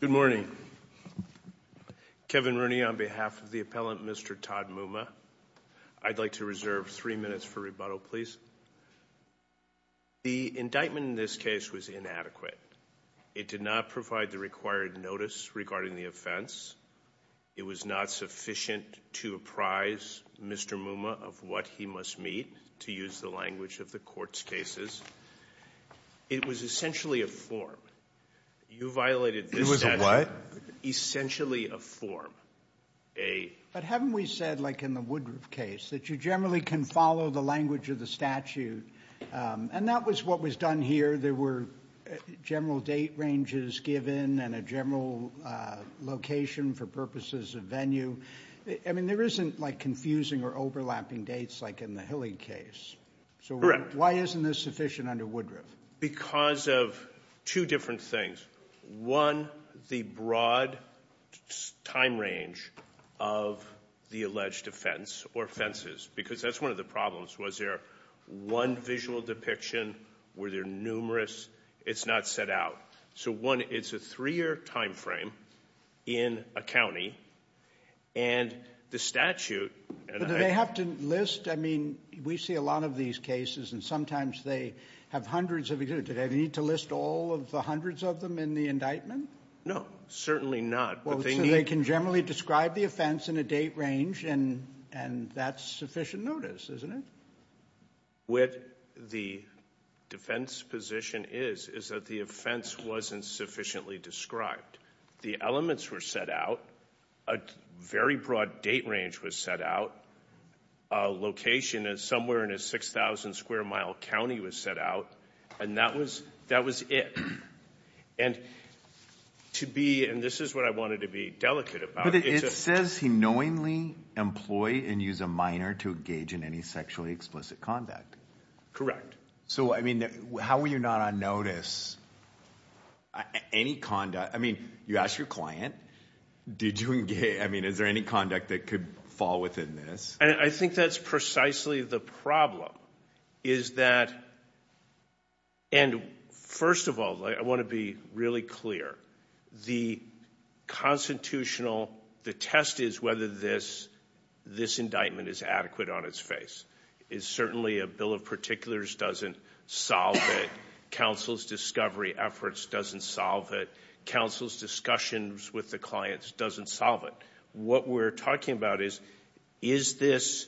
Good morning. Kevin Rooney on behalf of the appellant Mr. Todd Mumma. I'd like to reserve three minutes for rebuttal please. The indictment in this case was inadequate. It did not provide the required notice regarding the offense. It was not sufficient to apprise Mr. Mumma of what he must meet to use the language of the court's cases. It was essentially a form. You violated this statute. It was a what? Essentially a form. But haven't we said like in the Woodruff case that you generally can follow the language of the statute and that was what was done here. There were general date ranges given and a general location for purposes of venue. I mean there isn't like confusing or overlapping dates like in the Hilling case. Correct. So why isn't this sufficient under Woodruff? Because of two different things. One, the broad time range of the alleged offense or offenses because that's one of the problems. Was there one visual depiction? Were there numerous? It's not set out. So one, it's a three-year time frame in a county and the statute. Do they have to list? I mean we see a lot of these cases and sometimes they have hundreds of it. Do they need to list all of the hundreds of them in the indictment? No, certainly not. So they can generally describe the offense in a date range and and that's sufficient notice isn't it? What the defense position is is that the offense wasn't sufficiently described. The elements were set out. A very broad date range was set out. A location is somewhere in a 6,000 square mile county was set out and that was that was it. And to be and this is what I wanted to be delicate about. It says he knowingly employ and use a minor to engage in any sexually explicit conduct. Correct. So I mean how were you not on notice? Any conduct? I mean you ask your client. Did you engage? I mean is there any conduct that could fall within this? I think that's precisely the problem. Is that and first of all I want to be really clear. The constitutional the test is whether this this indictment is adequate on its face. It's certainly a of particulars doesn't solve it. Counsel's discovery efforts doesn't solve it. Counsel's discussions with the clients doesn't solve it. What we're talking about is is this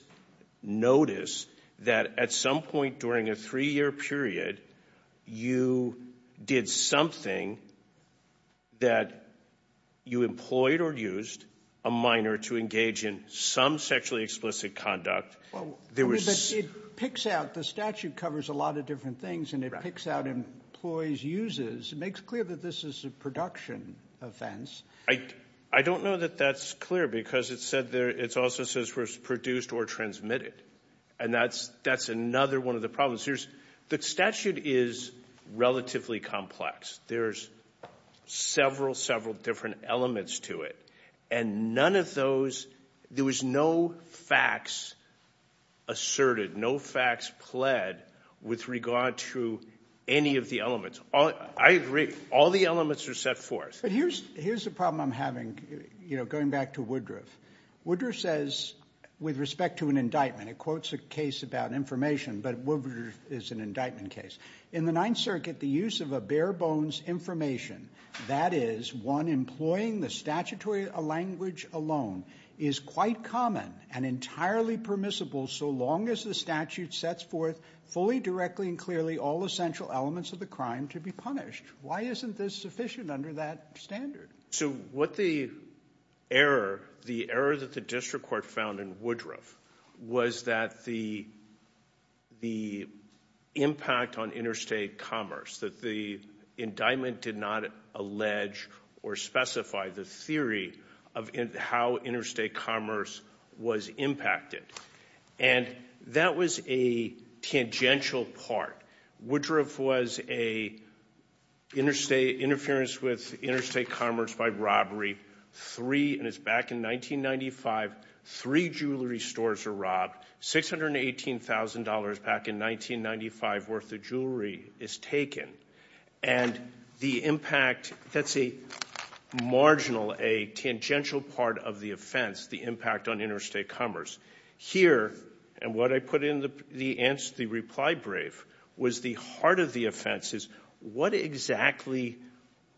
notice that at some point during a three-year period you did something that you employed or used a minor to engage in some sexually explicit conduct. Well there was. It picks out the statute covers a lot of different things and it picks out employees uses. It makes clear that this is a production offense. I I don't know that that's clear because it said there it's also says first produced or transmitted and that's that's another one of the problems. Here's the statute is relatively complex. There's several different elements to it and none of those there was no facts asserted. No facts pled with regard to any of the elements. I agree all the elements are set forth. But here's here's the problem I'm having you know going back to Woodruff. Woodruff says with respect to an indictment it quotes a case about information but Woodruff is an indictment case. In the Ninth Circuit the use of a bare-bones information, that is one employing the statutory language alone, is quite common and entirely permissible so long as the statute sets forth fully directly and clearly all essential elements of the crime to be punished. Why isn't this sufficient under that standard? So what the error the error that the district court found in Woodruff was that the the impact on interstate commerce that the indictment did not allege or specify the theory of how interstate commerce was impacted and that was a tangential part. Woodruff was a interstate interference with interstate commerce by robbery three and it's back in 1995 three jewelry stores were robbed six hundred and eighteen thousand dollars back in 1995 worth of jewelry is taken and the impact that's a marginal a tangential part of the offense the impact on interstate commerce here and what I put in the answer the reply brief was the heart of the offense is what exactly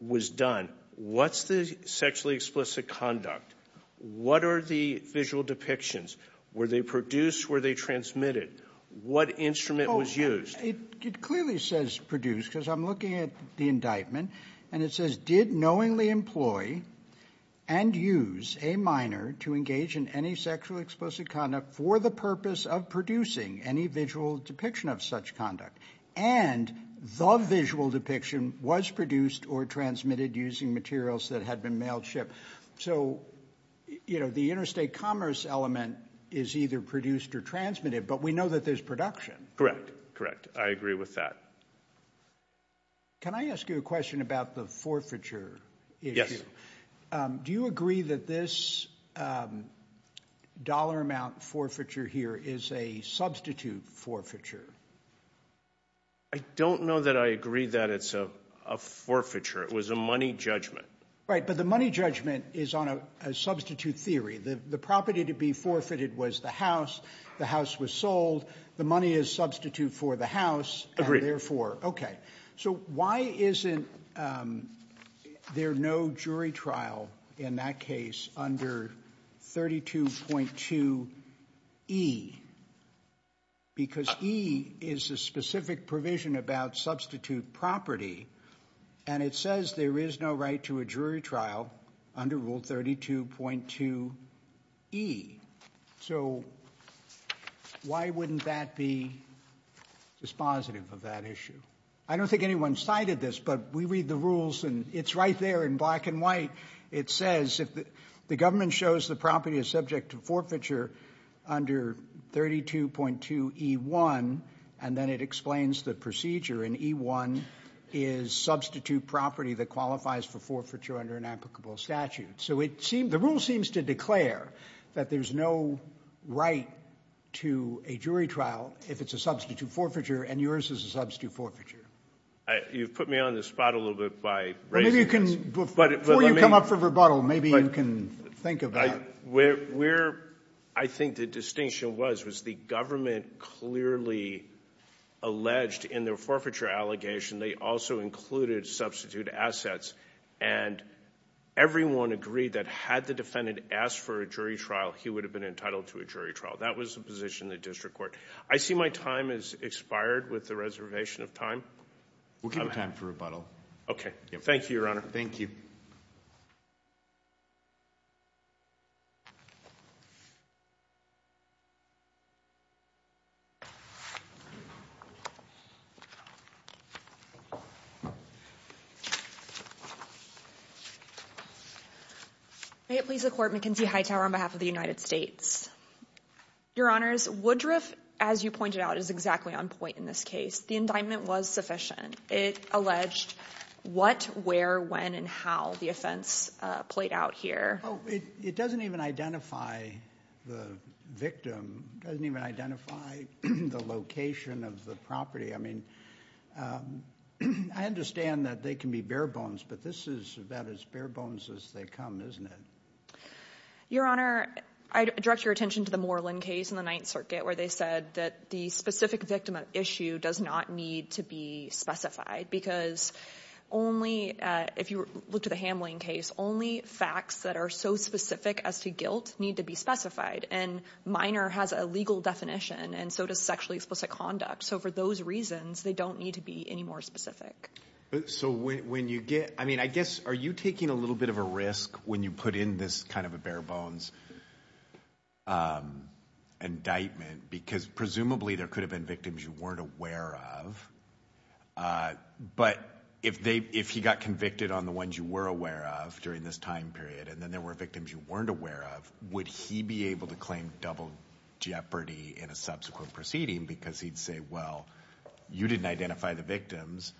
was done what's the sexually explicit conduct what are the visual depictions were they produced were they transmitted what instrument was used it clearly says produce because I'm looking at the indictment and it says did knowingly employ and use a minor to engage in any sexual explosive conduct for the purpose of producing any visual depiction of such conduct and the visual depiction was produced or transmitted using materials that had been mailed ship so you know the interstate commerce element is either produced or transmitted but we know that there's production correct correct I agree with that can I ask you a question about the forfeiture do you agree that this dollar amount forfeiture here is a substitute forfeiture I don't know that I agree that it's a forfeiture it was a money judgment right but the money judgment is on a substitute theory that the property to be forfeited was the house the house was sold the money is substitute for the house agree therefore okay so why isn't there no jury trial in that case under 32.2 e because he is a specific provision about substitute property and it says there is no right to a jury trial under rule 32.2 e so why wouldn't that be dispositive of that issue I don't think anyone cited this but we read the rules and it's right there in black and white it says if the government shows the property is subject to forfeiture under 32.2 e 1 and then it explains the procedure in e1 is substitute property that qualifies for forfeiture under an applicable statute so it seemed the rule seems to declare that there's no right to a jury trial if it's a substitute forfeiture and yours is a substitute forfeiture you've put me on the spot a little bit by maybe you can come up for rebuttal maybe you can think about where I think the distinction was was the government clearly alleged in their forfeiture allegation they also included substitute assets and everyone agreed that had the defendant asked for a jury trial he would have been entitled to a jury trial that was the position the district court I see my time is expired with the reservation of time we'll have a time for rebuttal okay thank you your honor thank you may it please the court McKenzie Hightower on behalf of the United States your honors Woodruff as you pointed out is exactly on point in this case the indictment was sufficient it alleged what where when and how the offense played out here it doesn't even identify the victim doesn't even identify the location of the property I mean I understand that they can be bare-bones but this is about as bare-bones as they come isn't it your honor I direct your attention to the Moreland case in the Ninth Circuit where they said that the specific victim of issue does not need to be specified because only if you look to the Hamline case only facts that are so specific as to guilt need to be specified and minor has a legal definition and so does sexually explicit conduct so for those reasons they don't need to be any more specific so when you get I mean I guess are you taking a little bit of a risk when you put in this kind of a bare-bones indictment because presumably there could have been victims you weren't aware of but if they if he got convicted on the ones you were aware of during this time period and then there were victims you weren't aware of would he be able to claim double jeopardy in a subsequent proceeding because he'd say well you didn't identify the victims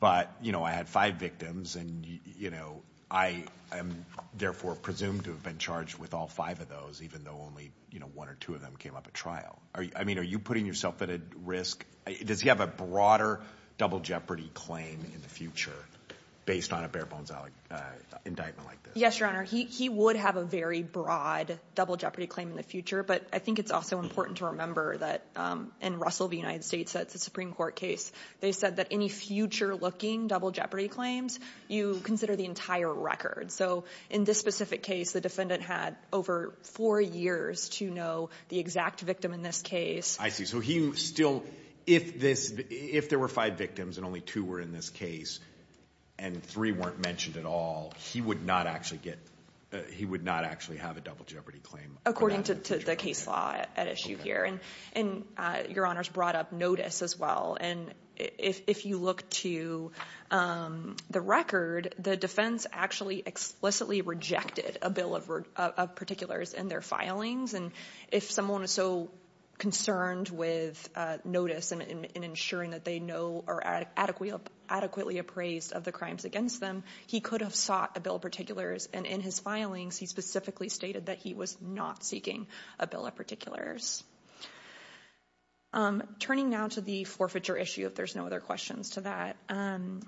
but you know I had five victims and you know I am therefore presumed to have been charged with all five of those even though only you know one or two of them came up at trial are you I mean are you putting yourself at a risk does he have a broader double jeopardy claim in the future based on a bare-bones indictment like this yes your honor he would have a very broad double jeopardy claim in the future but I think it's also important to remember that in Russell the United States that's a Supreme Court case they said that any future-looking double jeopardy claims you consider the entire record so in this specific case the defendant had over four years to know the exact victim in this case I see so he still if this if there were five victims and only two were in this case and three weren't mentioned at all he would not actually get he would not actually have a double jeopardy claim according to the case law issue here and and your honors brought up notice as well and if you look to the record the defense actually explicitly rejected a bill of particulars in their filings and if someone is so concerned with notice and ensuring that they know or adequately adequately appraised of the crimes against them he could have sought a bill particulars and in his filings he specifically stated that he was not seeking a bill of particulars turning now to the forfeiture issue if there's no other questions to that and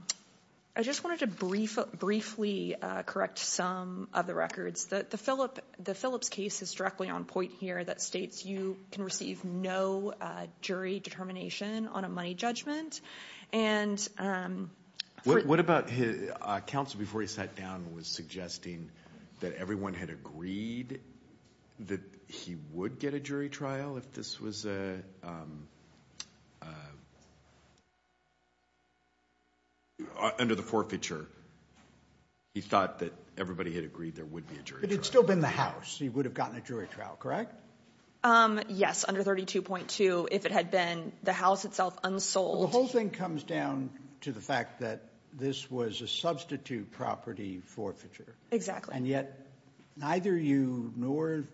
I just wanted to brief briefly correct some of the records that the Philip the Phillips case is directly on point here that states you can receive no jury determination on a money judgment and what about his counsel before he sat down was suggesting that everyone had agreed that he would get a jury trial if this was a under the forfeiture he thought that everybody had agreed there would be a jury but it's still been the house he would have gotten a jury trial correct yes under 32.2 if it had been the house itself unsold the whole thing comes down to the fact that this was a substitute property forfeiture exactly and yet neither you nor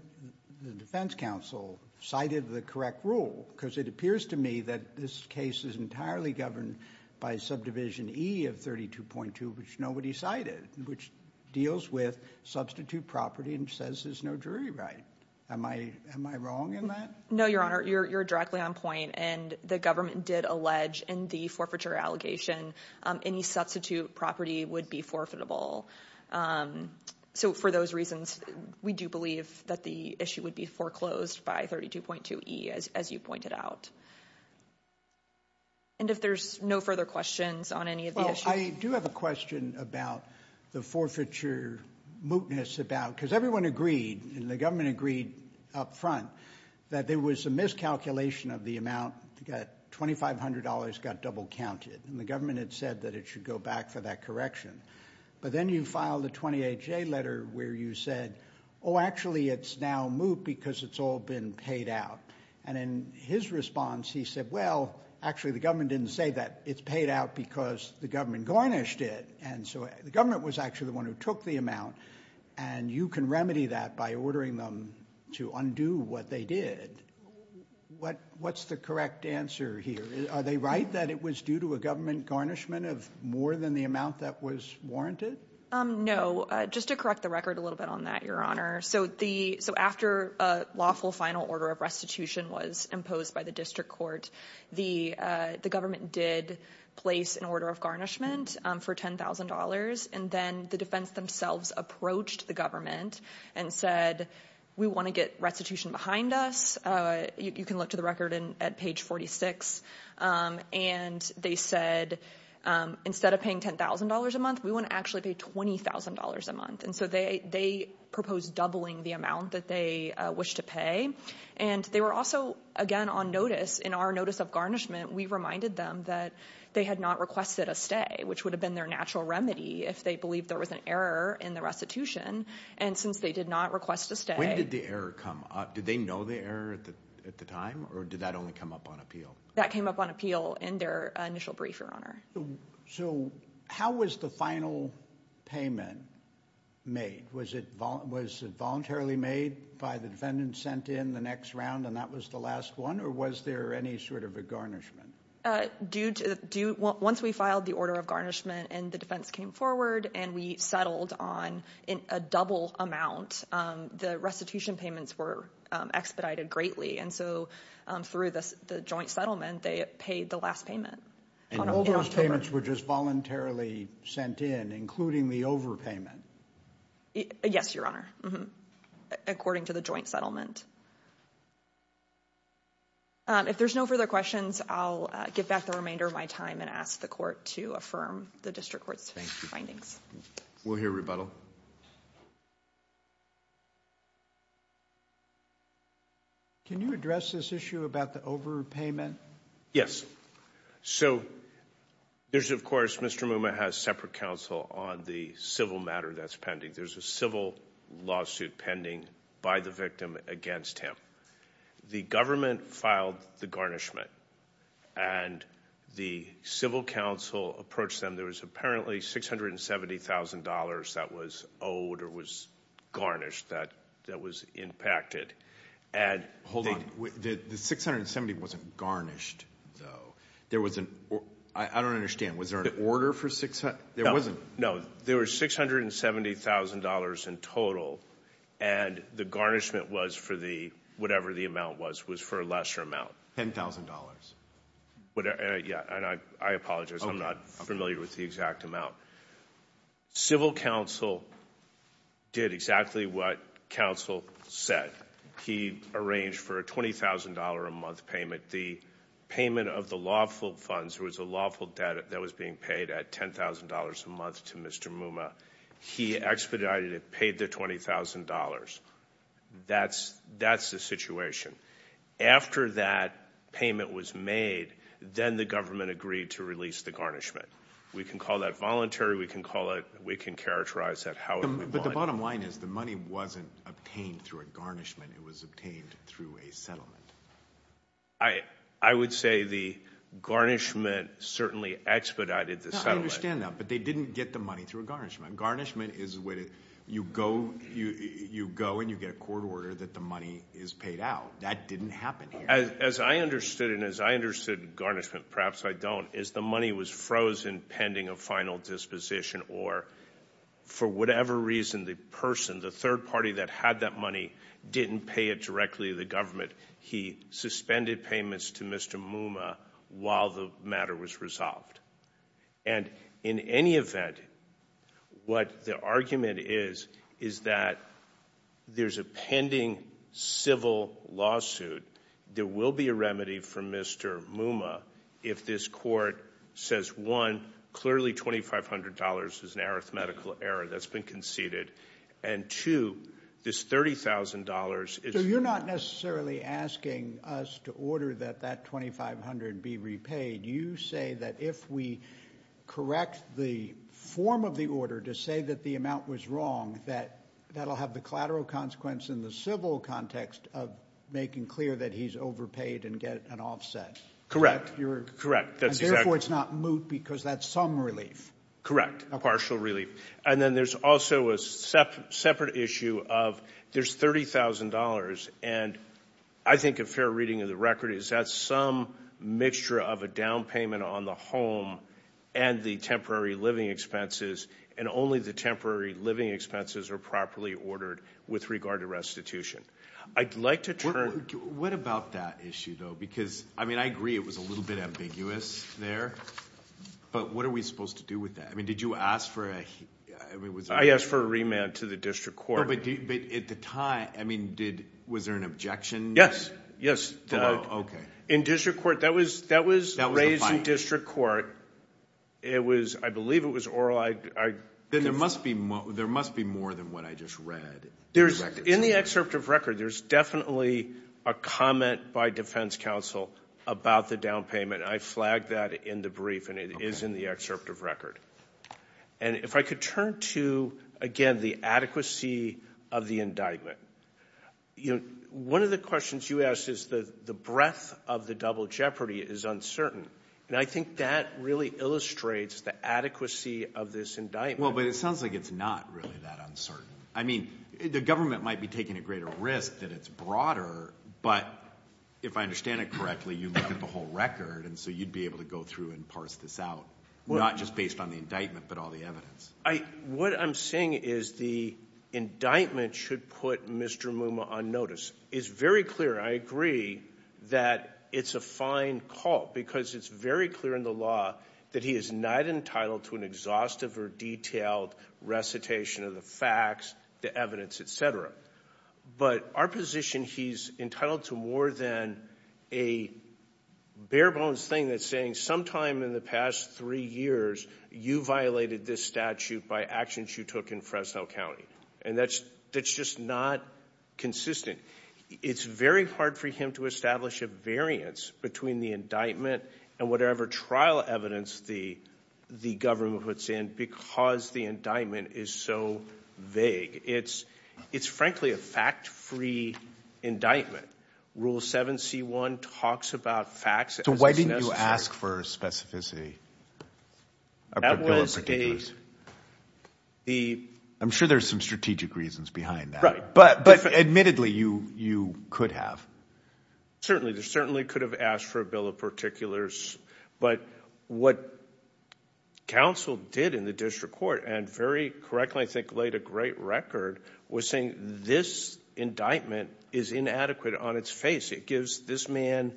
the defense counsel cited the correct rule because it appears to me that this case is entirely governed by subdivision e of 32.2 which nobody cited which deals with substitute property and says there's no jury right am I am I wrong in that no your honor you're directly on point and the government did allege in the forfeiture allegation any substitute property would be forfeitable so for those reasons we do believe that the issue would be foreclosed by 32.2 e as you pointed out and if there's no further questions on any of this I do have a question about the forfeiture mootness about because everyone agreed and the government agreed up front that there was a miscalculation of the amount to get $2,500 got double counted and the government had said that it should go back for that correction but then you file the 28 J letter where you said oh actually it's now moot because it's all been paid out and in his response he said well actually the government didn't say that it's paid out because the government garnished it and so the government was actually the one who took the amount and you can remedy that by ordering them to undo what they did what what's the correct answer here are they right that it was due to a government garnishment of more than the amount that was warranted no just to correct the record a little bit on that your honor so the so after a lawful final order of restitution was imposed by the district court the the government did place an order of garnishment for $10,000 and then the defense themselves approached the government and said we want to get restitution behind us you can look to the record in at page 46 and they said instead of paying $10,000 a month we want to actually be $20,000 a month and so they they proposed doubling the amount that they wish to pay and they were also again on notice in our notice of garnishment we reminded them that they had not requested a stay which would have been their natural remedy if they believe there was an error in the restitution and since they did not request to stay did the error come up did they know the error at the time or did that only come up on appeal that came up on appeal in their initial brief your honor so how was the final payment made was it was it voluntarily made by the defendant sent in the next round and that was the last one or was there any sort of a garnishment due to do once we filed the order of garnishment and the came forward and we settled on in a double amount the restitution payments were expedited greatly and so through this the joint settlement they paid the last payment all those payments were just voluntarily sent in including the overpayment yes your honor according to the joint settlement if there's no further questions I'll get back the remainder of my time and ask the court to affirm the district court's findings we'll hear rebuttal can you address this issue about the overpayment yes so there's of course mr. Mooma has separate counsel on the civil matter that's pending there's a civil lawsuit pending by the victim against him the government filed the garnishment and the civil council approached them there was apparently six hundred and seventy thousand dollars that was owed or was garnished that that was impacted and hold on the 670 wasn't garnished there wasn't I don't understand was there an order for six there wasn't no there was six hundred and seventy thousand dollars in total and the garnishment was for the whatever the was was for a lesser amount $10,000 whatever yeah and I apologize I'm not familiar with the exact amount civil counsel did exactly what counsel said he arranged for a $20,000 a month payment the payment of the lawful funds there was a lawful debt that was being paid at $10,000 a month to mr. Mooma he expedited it paid the $20,000 that's that's the situation after that payment was made then the government agreed to release the garnishment we can call that voluntary we can call it we can characterize that however the bottom line is the money wasn't obtained through a garnishment it was obtained through a settlement I I would say the garnishment certainly expedited the settlement up but they didn't get the money through a garnishment garnishment is what it you go you you go and you get a court order that the money is paid out that didn't happen as I understood and as I understood garnishment perhaps I don't is the money was frozen pending a final disposition or for whatever reason the person the third party that had that money didn't pay it directly the government he suspended payments to mr. while the matter was resolved and in any event what the argument is is that there's a pending civil lawsuit there will be a remedy for mr. Mooma if this court says one clearly $2,500 is an arithmetical error that's been conceded and to this $30,000 is you're not necessarily asking us to order that that $2,500 be repaid you say that if we correct the form of the order to say that the amount was wrong that that'll have the collateral consequence in the civil context of making clear that he's overpaid and get an offset correct you're correct that's therefore it's not moot because that's some relief correct a partial relief and then there's also a separate issue of there's $30,000 and I think a fair reading of the record is that some mixture of a down payment on the home and the temporary living expenses and only the temporary living expenses are properly ordered with regard to restitution I'd like to turn what about that issue though because I mean I agree it was a little bit ambiguous there but what are we supposed to do with that I mean did you ask for a yes for a remand to the district court but at the time I mean did was there an objection yes yes okay in district court that was that was that was raised in district court it was I believe it was oral I then there must be more there must be more than what I just read there's in the excerpt of record there's definitely a comment by defense counsel about the down payment I flagged that in the brief and it is in the excerpt of record and if I could turn to again the adequacy of the indictment you know one of the questions you asked is the the breadth of the double jeopardy is uncertain and I think that really illustrates the adequacy of this indictment well but it sounds like it's not really that uncertain I mean the government might be taking a greater risk that it's broader but if I understand it correctly you look at the whole record and so you'd be able to go through and parse this out well not just indictment should put mr. Mooma on notice is very clear I agree that it's a fine call because it's very clear in the law that he is not entitled to an exhaustive or detailed recitation of the facts the evidence etc but our position he's entitled to more than a bare-bones thing that's saying sometime in the past three years you violated this statute by actions you took in Fresno County and that's that's just not consistent it's very hard for him to establish a variance between the indictment and whatever trial evidence the the government puts in because the indictment is so vague it's it's frankly a fact-free indictment rule 7c1 talks about facts so why didn't you ask for specificity I'm sure there's some strategic reasons behind right but but admittedly you you could have certainly there certainly could have asked for a bill of particulars but what counsel did in the district court and very correctly I think laid a great record was saying this indictment is inadequate on its face it gives this man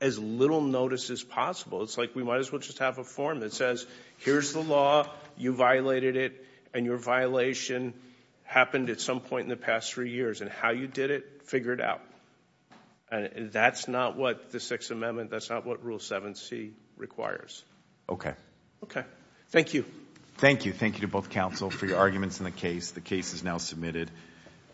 as little notice as possible it's like we might as well just have a form that says here's the law you violated it and your violation happened at some point in the past three years and how you did it figure it out and that's not what the Sixth Amendment that's not what rule 7c requires okay okay thank you thank you thank you to both counsel for your arguments in the case the case is now submitted